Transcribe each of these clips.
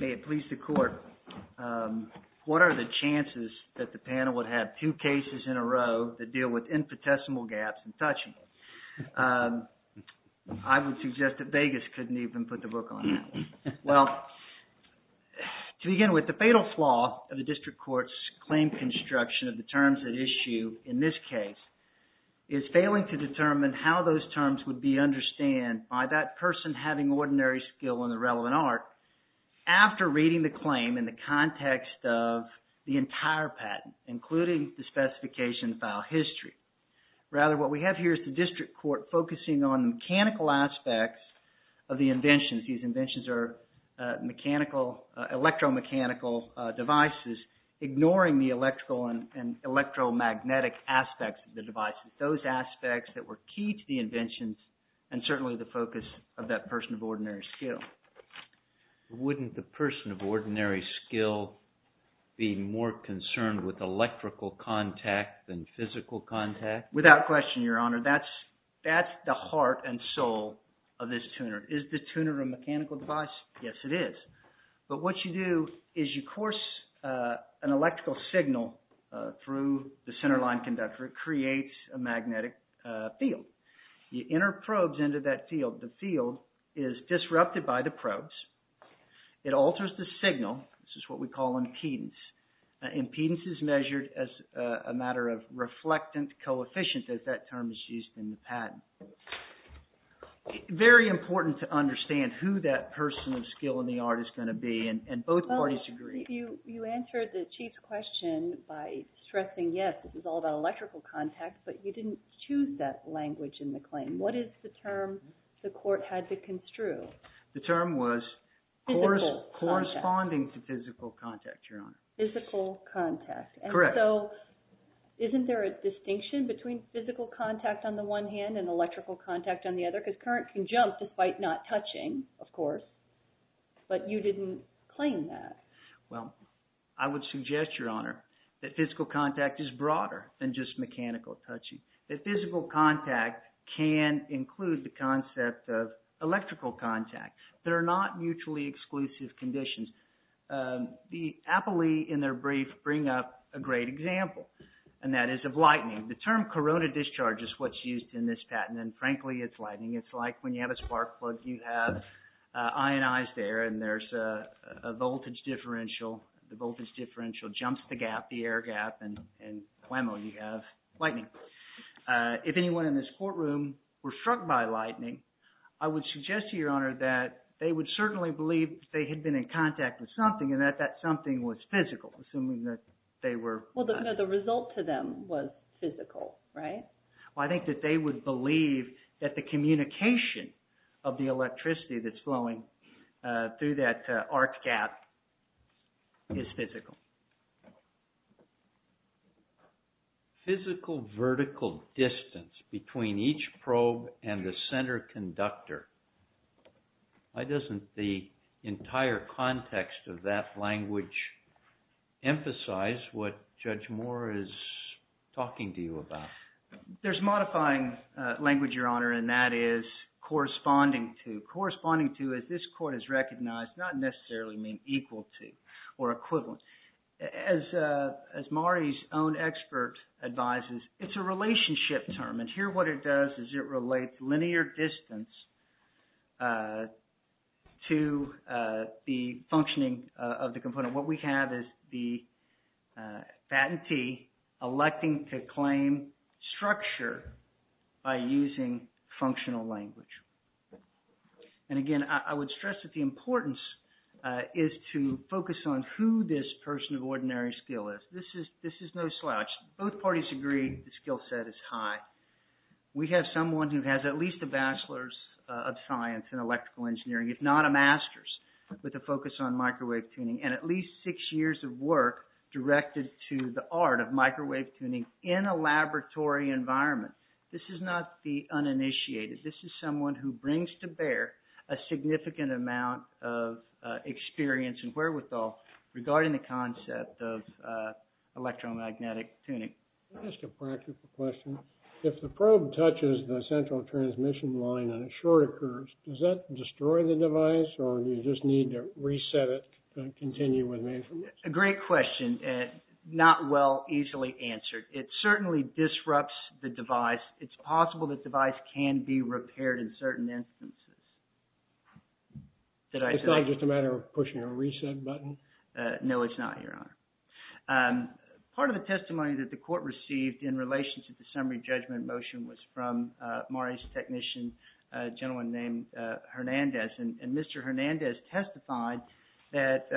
May it please the Court, what are the chances that the panel would have two cases in a row that deal with infinitesimal gaps and touchable? I would suggest that Vegas couldn't even put the book on that one. Well, to begin with, the fatal flaw of the District Court's claim construction of the terms at issue in this case is failing to determine how those terms would be understood by that person having ordinary skill in the relevant art after reading the claim in the context of the entire patent, including the specification file history. Rather, what we have here is the District Court focusing on mechanical aspects of the inventions. These inventions are electromechanical devices, ignoring the electrical and electromagnetic aspects of the devices, those aspects that were key to the inventions and certainly the focus of that person of ordinary skill. Wouldn't the person of ordinary skill be more concerned with electrical contact than physical contact? It alters the signal. This is what we call impedance. Impedance is measured as a matter of reflectant coefficient, as that term is used in the patent. Very important to understand who that person of skill in the art is going to be, and both parties agree. You answered the Chief's question by stressing, yes, this is all about electrical contact, but you didn't choose that language in the claim. What is the term the Court had to construe? The term was corresponding to physical contact, Your Honor. Correct. Isn't there a distinction between physical contact on the one hand and electrical contact on the other? Because current can jump despite not touching, of course, but you didn't claim that. Well, I would suggest, Your Honor, that physical contact is broader than just mechanical touching. That physical contact can include the concept of electrical contact. They're not mutually exclusive conditions. The appellee in their brief bring up a great example, and that is of lightning. The term corona discharge is what's used in this patent, and frankly, it's lightning. It's like when you have a spark plug, you have ionized air and there's a voltage differential. The voltage differential jumps the gap, the air gap, and whammo, you have lightning. If anyone in this courtroom were struck by lightning, I would suggest to Your Honor that they would certainly believe that they had been in contact with something and that that something was physical, assuming that they were… Well, the result to them was physical, right? Well, I think that they would believe that the communication of the electricity that's flowing through that arc gap is physical. Physical vertical distance between each probe and the center conductor. Why doesn't the entire context of that language emphasize what Judge Moore is talking to you about? There's modifying language, Your Honor, and that is corresponding to. Corresponding to, as this court has recognized, does not necessarily mean equal to or equivalent. As Mari's own expert advises, it's a relationship term, and here what it does is it relates linear distance to the functioning of the component. What we have is the patentee electing to claim structure by using functional language. And again, I would stress that the importance is to focus on who this person of ordinary skill is. This is no slouch. Both parties agree the skill set is high. We have someone who has at least a bachelor's of science in electrical engineering, if not a master's, with a focus on microwave tuning, and at least six years of work directed to the art of microwave tuning in a laboratory environment. This is not the uninitiated. This is someone who brings to bear a significant amount of experience and wherewithal regarding the concept of electromagnetic tuning. Can I ask a practical question? If the probe touches the central transmission line and a short occurs, does that destroy the device, or do you just need to reset it to continue with maintenance? A great question. Not well easily answered. It certainly disrupts the device. It's possible the device can be repaired in certain instances. Is that just a matter of pushing a reset button? No, it's not, Your Honor. Part of the testimony that the court received in relation to the summary judgment motion was from Mari's technician, a gentleman named Hernandez. And Mr. Hernandez testified that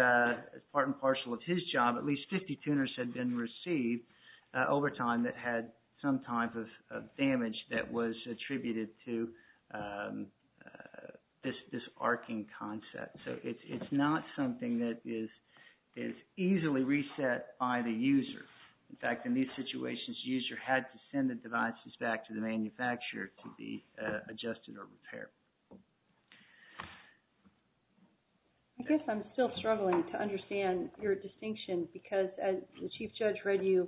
part and parcel of his job, at least 50 tuners had been received over time that had some type of damage that was attributed to this arcing concept. So it's not something that is easily reset by the user. In fact, in these situations, the user had to send the devices back to the manufacturer to be adjusted or repaired. I guess I'm still struggling to understand your distinction, because as the Chief Judge read you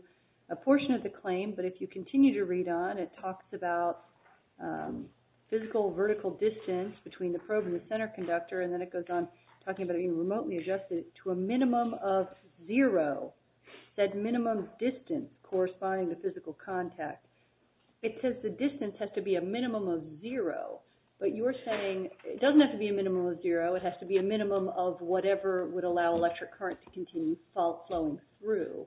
a portion of the claim, but if you continue to read on, it talks about physical vertical distance between the probe and the center conductor, and then it goes on talking about being remotely adjusted to a minimum of zero, that minimum distance corresponding to physical contact. It says the distance has to be a minimum of zero. But you're saying it doesn't have to be a minimum of zero. It has to be a minimum of whatever would allow electric current to continue flowing through.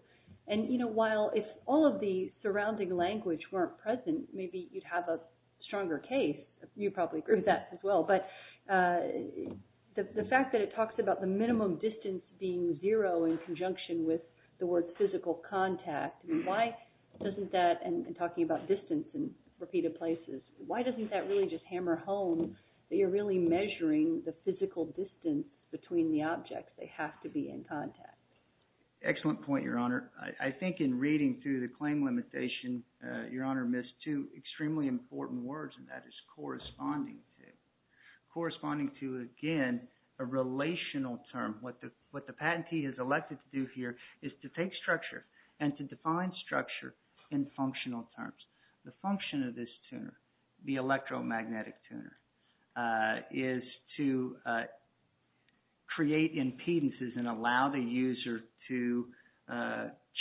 And, you know, while if all of the surrounding language weren't present, maybe you'd have a stronger case. You probably agree with that as well. But the fact that it talks about the minimum distance being zero in conjunction with the word physical contact, why doesn't that, and talking about distance in repeated places, why doesn't that really just hammer home that you're really measuring the physical distance between the objects? They have to be in contact. Excellent point, Your Honor. I think in reading through the claim limitation, Your Honor missed two extremely important words, and that is corresponding to. Corresponding to, again, a relational term. What the patentee is elected to do here is to take structure and to define structure in functional terms. The function of this tuner, the electromagnetic tuner, is to create impedances and allow the user to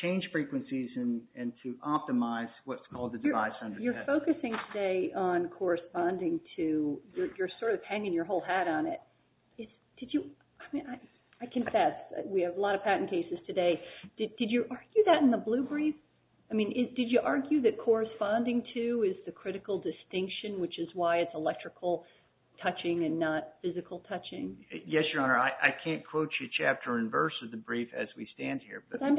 change frequencies and to optimize what's called the device under test. You're focusing today on corresponding to. You're sort of hanging your whole hat on it. I confess, we have a lot of patent cases today. Did you argue that in the blue brief? I mean, did you argue that corresponding to is the critical distinction, which is why it's electrical touching and not physical touching? Yes, Your Honor. I can't quote you chapter and verse of the brief as we stand here. I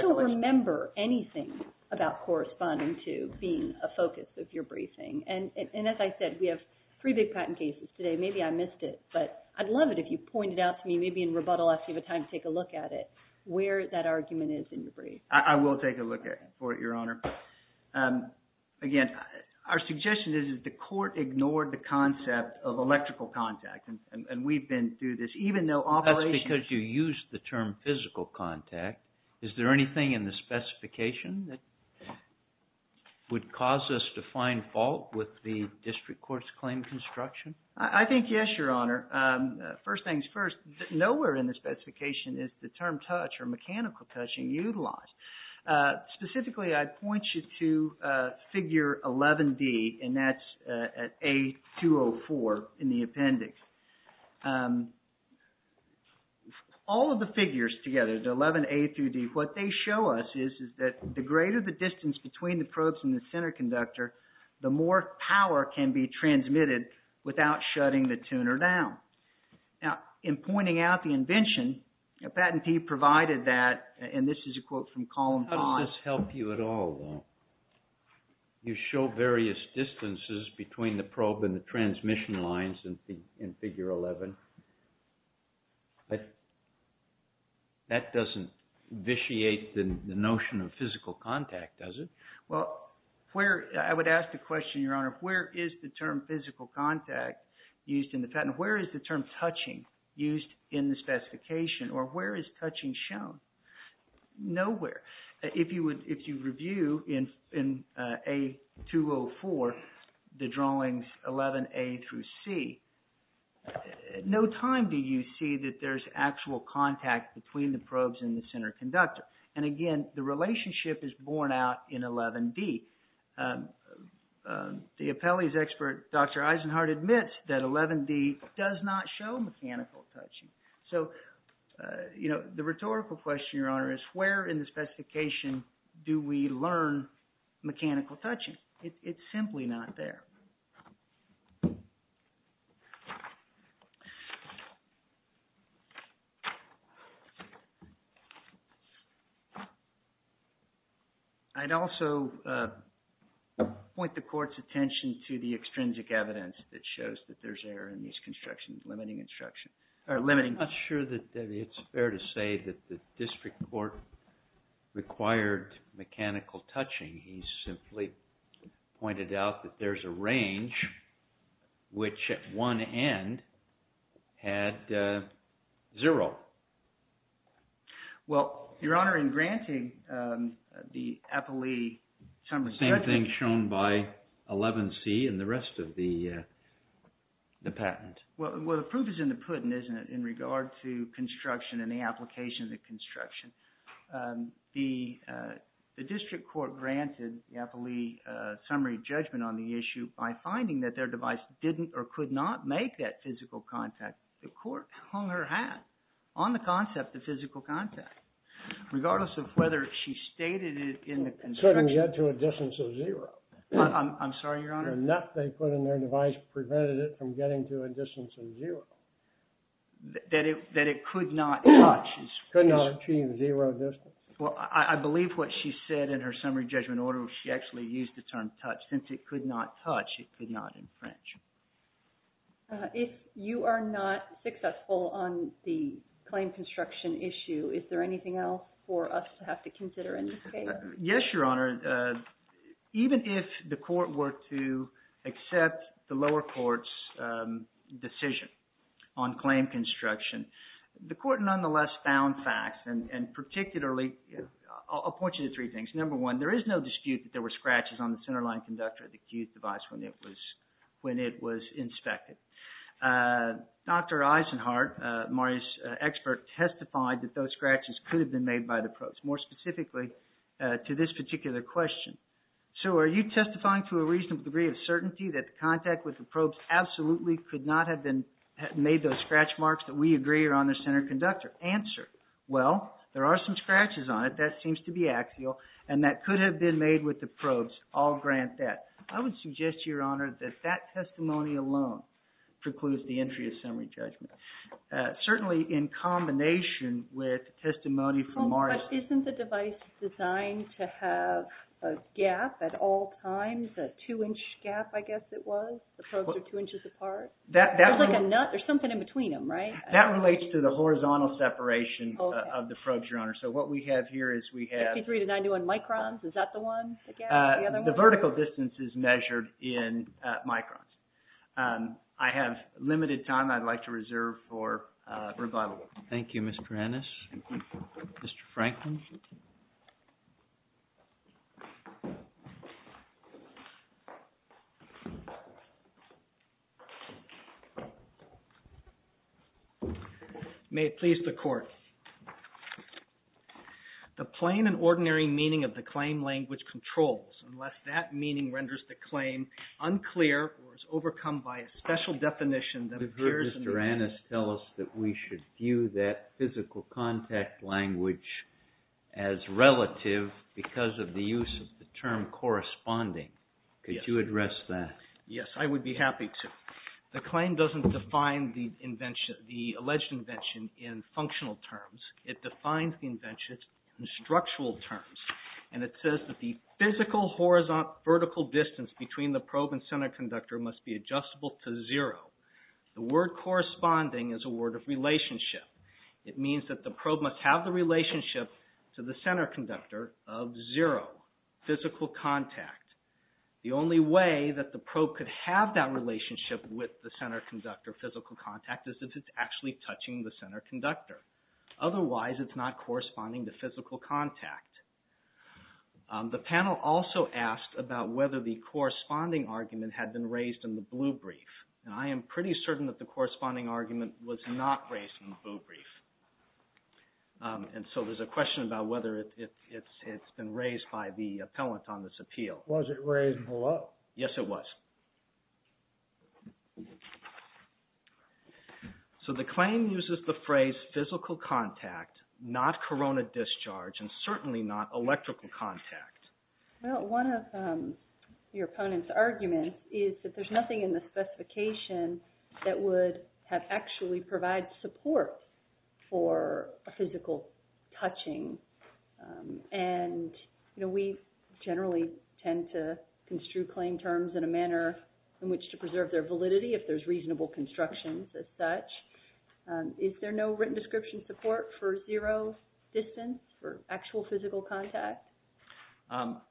don't remember anything about corresponding to being a focus of your briefing. And as I said, we have three big patent cases today. Maybe I missed it, but I'd love it if you pointed out to me, maybe in rebuttal after you have time to take a look at it, where that argument is in the brief. I will take a look for it, Your Honor. Again, our suggestion is that the court ignored the concept of electrical contact, and we've been through this. That's because you used the term physical contact. Is there anything in the specification that would cause us to find fault with the district court's claim construction? I think yes, Your Honor. First things first, nowhere in the specification is the term touch or mechanical touching utilized. Specifically, I'd point you to figure 11D, and that's at A204 in the appendix. All of the figures together, the 11A through D, what they show us is that the greater the distance between the probes and the center conductor, the more power can be transmitted without shutting the tuner down. Now, in pointing out the invention, a patentee provided that, and this is a quote from Column 5. Does this help you at all, though? You show various distances between the probe and the transmission lines in Figure 11. That doesn't vitiate the notion of physical contact, does it? Well, I would ask the question, Your Honor, where is the term physical contact used in the patent? Or where is touching shown? Nowhere. If you review in A204 the drawings 11A through C, at no time do you see that there's actual contact between the probes and the center conductor. And again, the relationship is borne out in 11D. The appellee's expert, Dr. Eisenhardt, admits that 11D does not show mechanical touching. So, you know, the rhetorical question, Your Honor, is where in the specification do we learn mechanical touching? It's simply not there. I'd also point the Court's attention to the extrinsic evidence that shows that there's error in these constructions limiting instruction. I'm not sure that it's fair to say that the district court required mechanical touching. He simply pointed out that there's a range which at one end had zero. Well, Your Honor, in granting the appellee some discretion… Same thing shown by 11C and the rest of the patent. Well, the proof is in the pudding, isn't it, in regard to construction and the applications of construction. The district court granted the appellee summary judgment on the issue by finding that their device didn't or could not make that physical contact. The court hung her hat on the concept of physical contact. Regardless of whether she stated it in the construction… I'm sorry, Your Honor. …or not they put in their device prevented it from getting to a distance of zero. That it could not touch. Could not achieve zero distance. Well, I believe what she said in her summary judgment order, she actually used the term touch. Since it could not touch, it could not infringe. If you are not successful on the claim construction issue, is there anything else for us to have to consider in this case? Yes, Your Honor. Even if the court were to accept the lower court's decision on claim construction, the court nonetheless found facts. And particularly, I'll point you to three things. Number one, there is no dispute that there were scratches on the centerline conductor of the Q device when it was inspected. Dr. Eisenhardt, Mario's expert, testified that those scratches could have been made by the probes. More specifically, to this particular question. So, are you testifying to a reasonable degree of certainty that the contact with the probes absolutely could not have been… made those scratch marks that we agree are on the center conductor? Answer, well, there are some scratches on it that seems to be axial and that could have been made with the probes. I'll grant that. I would suggest, Your Honor, that that testimony alone precludes the entry of summary judgment. Certainly, in combination with testimony from Mario's… But isn't the device designed to have a gap at all times, a two-inch gap, I guess it was? The probes are two inches apart? That… There's like a nut or something in between them, right? That relates to the horizontal separation of the probes, Your Honor. So, what we have here is we have… 53 to 91 microns, is that the one? The vertical distance is measured in microns. I have limited time I'd like to reserve for rebuttal. Thank you, Mr. Ennis. Thank you. May it please the Court. The plain and ordinary meaning of the claim language controls unless that meaning renders the claim unclear or is overcome by a special definition that appears… We've heard Mr. Ennis tell us that we should view that physical contact language as relative because of the use of the term corresponding. Could you address that? Yes, I would be happy to. The claim doesn't define the alleged invention in functional terms. It defines the invention in structural terms, and it says that the physical vertical distance between the probe and center conductor must be adjustable to zero. The word corresponding is a word of relationship. It means that the probe must have the relationship to the center conductor of zero physical contact. The only way that the probe could have that relationship with the center conductor of physical contact is if it's actually touching the center conductor. Otherwise, it's not corresponding to physical contact. The panel also asked about whether the corresponding argument had been raised in the blue brief. I am pretty certain that the corresponding argument was not raised in the blue brief. And so there's a question about whether it's been raised by the appellant on this appeal. Was it raised in the blue? Yes, it was. So the claim uses the phrase physical contact, not corona discharge, and certainly not electrical contact. Well, one of your opponent's arguments is that there's nothing in the specification that would have actually provided support for physical touching. And we generally tend to construe claim terms in a manner in which to preserve their validity if there's reasonable constructions as such. Is there no written description support for zero distance for actual physical contact?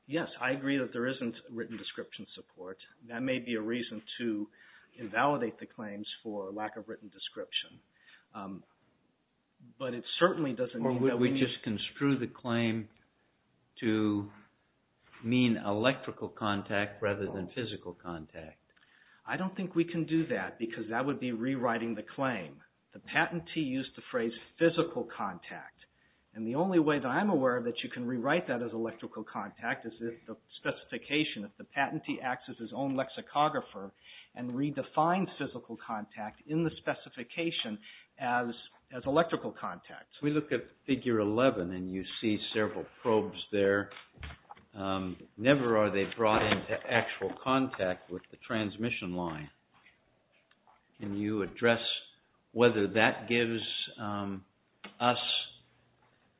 Yes, I agree that there isn't written description support. That may be a reason to invalidate the claims for lack of written description. Or would we just construe the claim to mean electrical contact rather than physical contact? I don't think we can do that because that would be rewriting the claim. The patentee used the phrase physical contact. And the only way that I'm aware of that you can rewrite that as electrical contact is if the specification, if the patentee acts as his own lexicographer and redefines physical contact in the specification as electrical contact. We look at figure 11 and you see several probes there. Never are they brought into actual contact with the transmission line. Can you address whether that gives us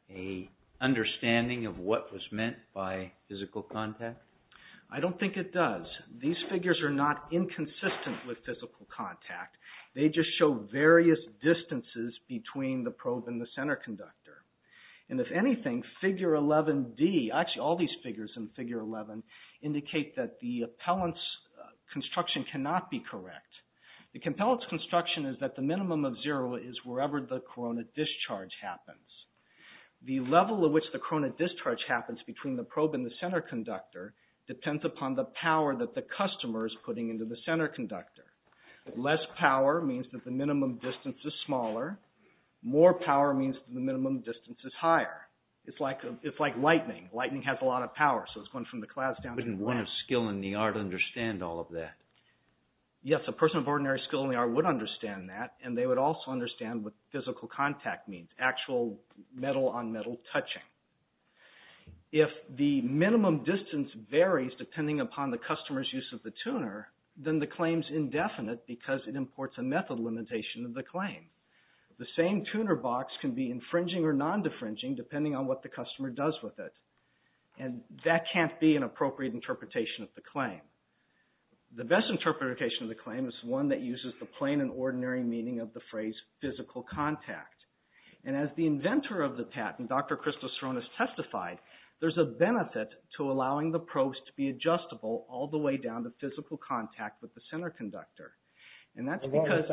an understanding of what was meant by physical contact? I don't think it does. These figures are not inconsistent with physical contact. They just show various distances between the probe and the center conductor. And if anything, figure 11D, actually all these figures in figure 11, indicate that the appellant's construction cannot be correct. The appellant's construction is that the minimum of zero is wherever the corona discharge happens. The level at which the corona discharge happens between the probe and the center conductor depends upon the power that the customer is putting into the center conductor. Less power means that the minimum distance is smaller. More power means that the minimum distance is higher. It's like lightning. Lightning has a lot of power, so it's going from the clouds down. Wouldn't one of skill in the art understand all of that? Yes, a person of ordinary skill in the art would understand that, and they would also understand what physical contact means, actual metal-on-metal touching. If the minimum distance varies depending upon the customer's use of the tuner, then the claim is indefinite because it imports a method limitation of the claim. The same tuner box can be infringing or non-defringing depending on what the customer does with it. And that can't be an appropriate interpretation of the claim. The best interpretation of the claim is one that uses the plain and ordinary meaning of the phrase physical contact. And as the inventor of the patent, Dr. Christos Saronis, testified, there's a benefit to allowing the probes to be adjustable all the way down to physical contact with the center conductor. And that's because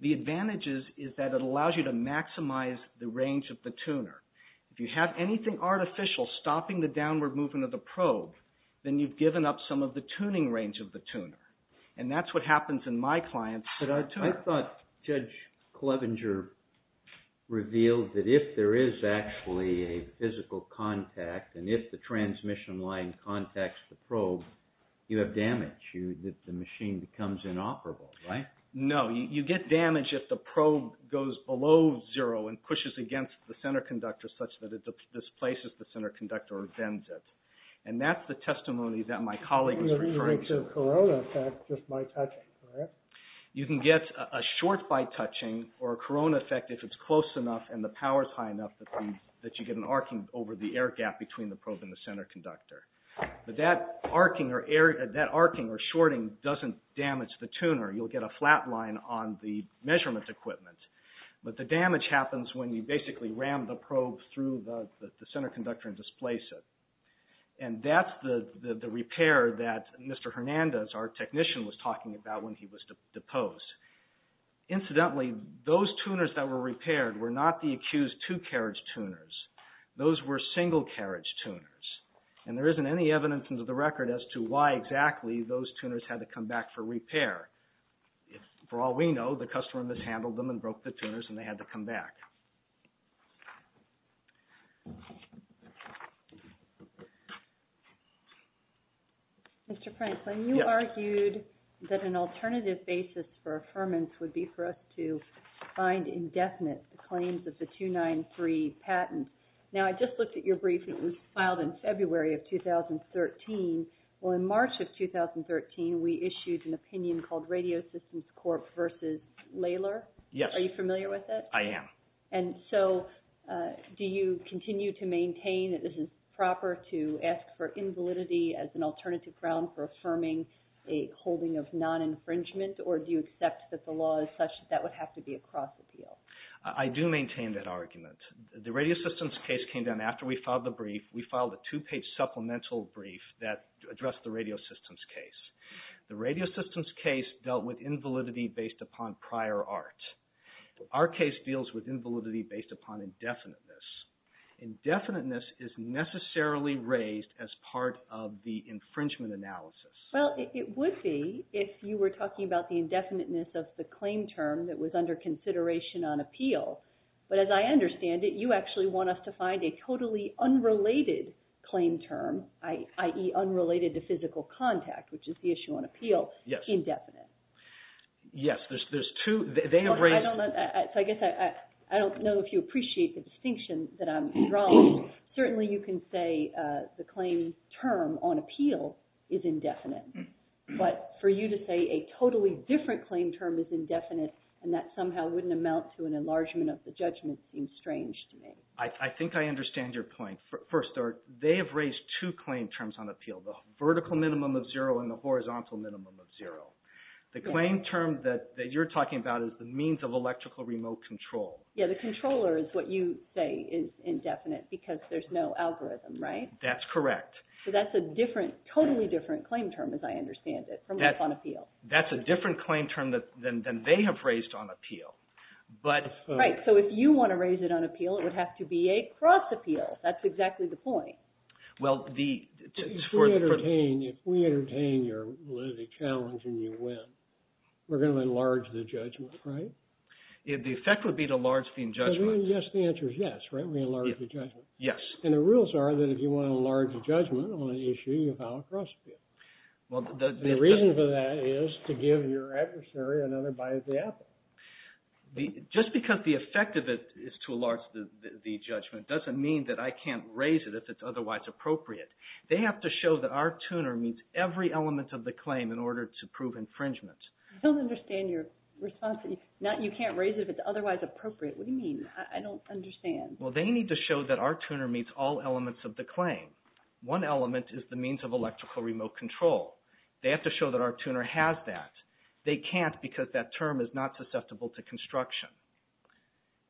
the advantages is that it allows you to maximize the range of the tuner. If you have anything artificial stopping the downward movement of the probe, then you've given up some of the tuning range of the tuner. And that's what happens in my client's tuner. I thought Judge Clevenger revealed that if there is actually a physical contact, and if the transmission line contacts the probe, you have damage. The machine becomes inoperable, right? No, you get damage if the probe goes below zero and pushes against the center conductor such that it displaces the center conductor or bends it. And that's the testimony that my colleague was referring to. In the case of Corona, that's just by touching, correct? You can get a short by touching or a Corona effect if it's close enough and the power's high enough that you get an arcing over the air gap between the probe and the center conductor. But that arcing or shorting doesn't damage the tuner. You'll get a flat line on the measurement equipment. But the damage happens when you basically ram the probe through the center conductor and displace it. And that's the repair that Mr. Hernandez, our technician, was talking about when he was deposed. Incidentally, those tuners that were repaired were not the accused two-carriage tuners. Those were single-carriage tuners. And there isn't any evidence into the record as to why exactly those tuners had to come back for repair. For all we know, the customer mishandled them and broke the tuners and they had to come back. Mr. Franklin, you argued that an alternative basis for affirmance would be for us to find indefinite claims of the 293 patent. Now, I just looked at your briefing. It was filed in February of 2013. Well, in March of 2013, we issued an opinion called Radio Systems Corp. v. Laylor. Yes. Are you familiar with it? I am. And so do you continue to maintain that this is proper to ask for invalidity as an alternative ground for affirming a holding of non-infringement? Or do you accept that the law is such that that would have to be a cross-appeal? I do maintain that argument. The Radio Systems case came down after we filed the brief. We filed a two-page supplemental brief that addressed the Radio Systems case. The Radio Systems case dealt with invalidity based upon prior art. Our case deals with invalidity based upon indefiniteness. Indefiniteness is necessarily raised as part of the infringement analysis. Well, it would be if you were talking about the indefiniteness of the claim term that was under consideration on appeal. But as I understand it, you actually want us to find a totally unrelated claim term, i.e., unrelated to physical contact, which is the issue on appeal, indefinite. Yes. Yes, there's two. I don't know if you appreciate the distinction that I'm drawing. Certainly, you can say the claim term on appeal is indefinite. But for you to say a totally different claim term is indefinite and that somehow wouldn't amount to an enlargement of the judgment seems strange to me. I think I understand your point. First, they have raised two claim terms on appeal, the vertical minimum of zero and the horizontal minimum of zero. The claim term that you're talking about is the means of electrical remote control. Yes, the controller is what you say is indefinite because there's no algorithm, right? That's correct. So that's a totally different claim term as I understand it from what's on appeal. That's a different claim term than they have raised on appeal. Right. So if you want to raise it on appeal, it would have to be a cross appeal. That's exactly the point. If we entertain your challenge and you win, we're going to enlarge the judgment, right? The effect would be to enlarge the judgment. Yes, the answer is yes, right? We enlarge the judgment. Yes. And the rules are that if you want to enlarge the judgment on an issue, you file a cross appeal. The reason for that is to give your adversary another bite at the apple. Just because the effect of it is to enlarge the judgment doesn't mean that I can't raise it if it's otherwise appropriate. They have to show that our tuner meets every element of the claim in order to prove infringement. I don't understand your response. You can't raise it if it's otherwise appropriate. What do you mean? I don't understand. Well, they need to show that our tuner meets all elements of the claim. One element is the means of electrical remote control. They have to show that our tuner has that. They can't because that term is not susceptible to construction.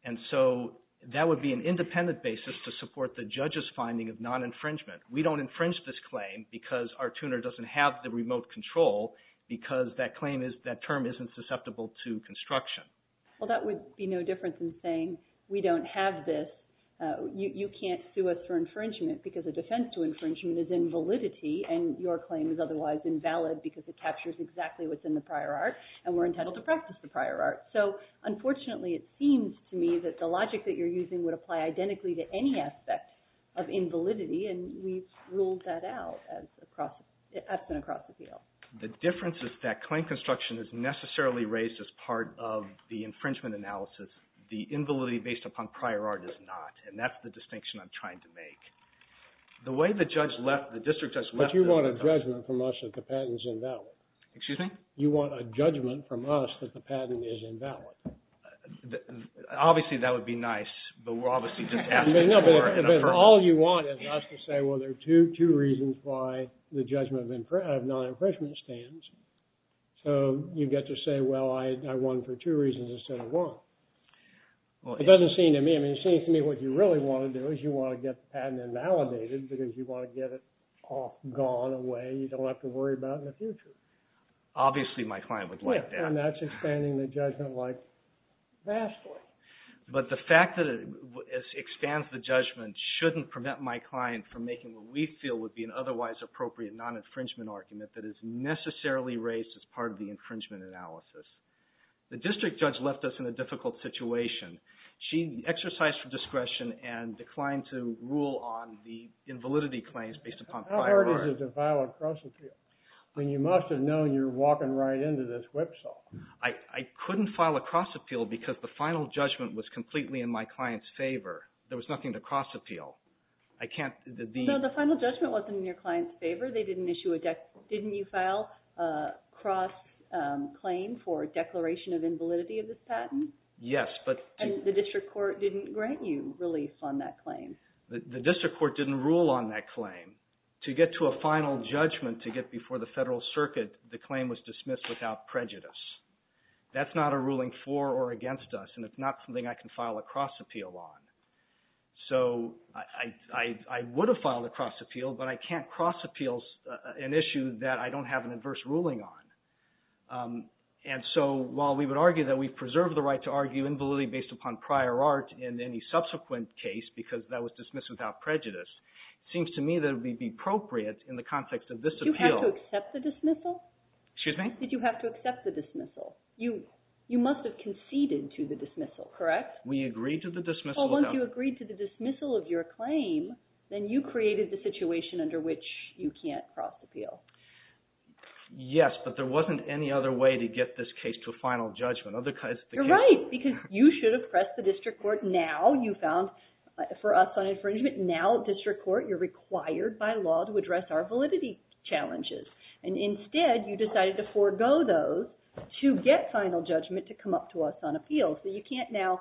And so that would be an independent basis to support the judge's finding of non-infringement. We don't infringe this claim because our tuner doesn't have the remote control because that term isn't susceptible to construction. Well, that would be no different than saying we don't have this. You can't sue us for infringement because a defense to infringement is in validity and your claim is otherwise invalid because it captures exactly what's in the prior art, and we're entitled to practice the prior art. So, unfortunately, it seems to me that the logic that you're using would apply identically to any aspect of invalidity, and we've ruled that out as an across-appeal. The difference is that claim construction is necessarily raised as part of the infringement analysis. The invalidity based upon prior art is not, and that's the distinction I'm trying to make. The way the judge left, the district judge left... But you want a judgment from us that the patent is invalid. Excuse me? You want a judgment from us that the patent is invalid. Obviously, that would be nice, but we're obviously just asking for... No, but all you want is us to say, well, there are two reasons why the judgment of non-infringement stands. So you get to say, well, I won for two reasons instead of one. It doesn't seem to me... I mean, it seems to me what you really want to do is you want to get the patent invalidated because you want to get it all gone away. You don't have to worry about it in the future. Obviously, my client would like that. And that's expanding the judgment, like, vastly. But the fact that it expands the judgment shouldn't prevent my client from making what we feel would be an otherwise appropriate non-infringement argument that is necessarily raised as part of the infringement analysis. The district judge left us in a difficult situation. She exercised her discretion and declined to rule on the invalidity claims based upon... How hard is it to file a cross-appeal? I mean, you must have known you were walking right into this whipsaw. I couldn't file a cross-appeal because the final judgment was completely in my client's favor. There was nothing to cross-appeal. I can't... So the final judgment wasn't in your client's favor. They didn't issue a... Didn't you file a cross-claim for declaration of invalidity of this patent? Yes, but... And the district court didn't grant you relief on that claim? The district court didn't rule on that claim. To get to a final judgment to get before the federal circuit, the claim was dismissed without prejudice. That's not a ruling for or against us, and it's not something I can file a cross-appeal on. So I would have filed a cross-appeal, but I can't cross-appeal an issue that I don't have an adverse ruling on. And so while we would argue that we've preserved the right to argue invalidity based upon prior art in any subsequent case because that was dismissed without prejudice, it seems to me that it would be appropriate in the context of this appeal... Did you have to accept the dismissal? Excuse me? Did you have to accept the dismissal? You must have conceded to the dismissal, correct? We agreed to the dismissal... Well, once you agreed to the dismissal of your claim, then you created the situation under which you can't cross-appeal. Yes, but there wasn't any other way to get this case to a final judgment. You're right, because you should have pressed the district court now. You found for us on infringement. Now at district court, you're required by law to address our validity challenges. And instead, you decided to forego those to get final judgment to come up to us on appeal. So you can't now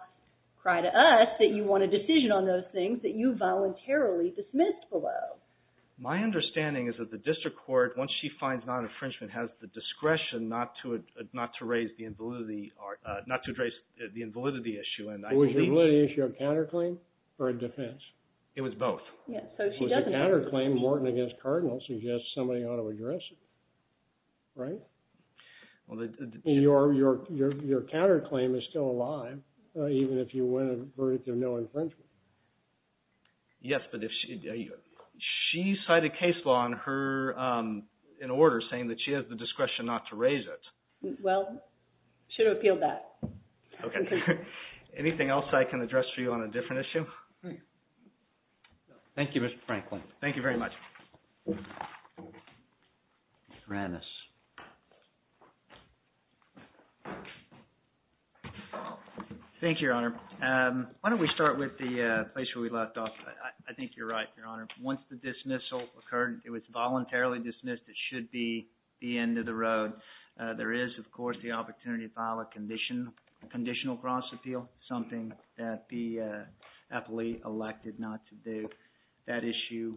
cry to us that you want a decision on those things that you voluntarily dismissed below. My understanding is that the district court, once she finds non-infringement, has the discretion not to raise the invalidity issue. Was the validity issue a counterclaim or a defense? It was both. Yes, so she doesn't... It was a counterclaim. Morton against Cardinal suggests somebody ought to address it, right? Your counterclaim is still alive, even if you win a verdict of no infringement. Yes, but if she... She cited case law in order saying that she has the discretion not to raise it. Well, should have appealed that. Okay. Anything else I can address for you on a different issue? Thank you, Mr. Franklin. Thank you very much. Mr. Ramos. Thank you, Your Honor. Why don't we start with the place where we left off? I think you're right, Your Honor. Once the dismissal occurred, it was voluntarily dismissed. It should be the end of the road. There is, of course, the opportunity to file a conditional cross-appeal, something that the appellee elected not to do. That issue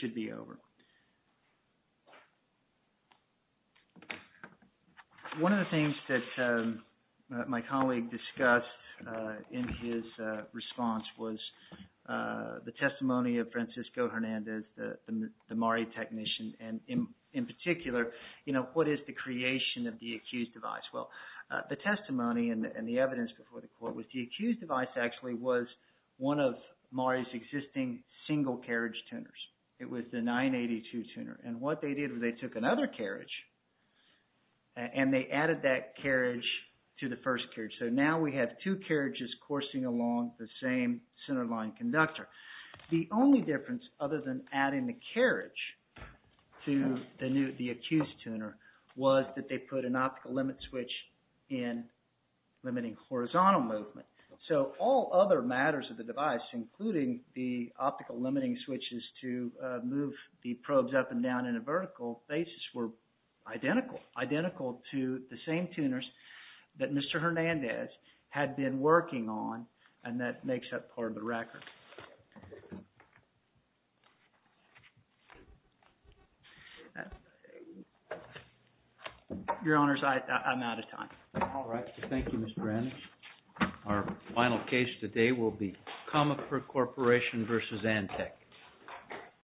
should be over. One of the things that my colleague discussed in his response was the testimony of Francisco Hernandez, the MARI technician. In particular, what is the creation of the accused device? Well, the testimony and the evidence before the court was the accused device actually was one of MARI's existing single carriage tuners. It was the 982 tuner. And what they did was they took another carriage and they added that carriage to the first carriage. So now we have two carriages coursing along the same centerline conductor. The only difference other than adding the carriage to the accused tuner was that they put an optical limit switch in limiting horizontal movement. So all other matters of the device, including the optical limiting switches to move the probes up and down in a vertical basis, were identical to the same tuners that Mr. Hernandez had been working on and that makes up part of the record. Your Honors, I'm out of time. All right. Thank you, Mr. Hernandez. Our final case today will be Comifer Corporation v. Antec.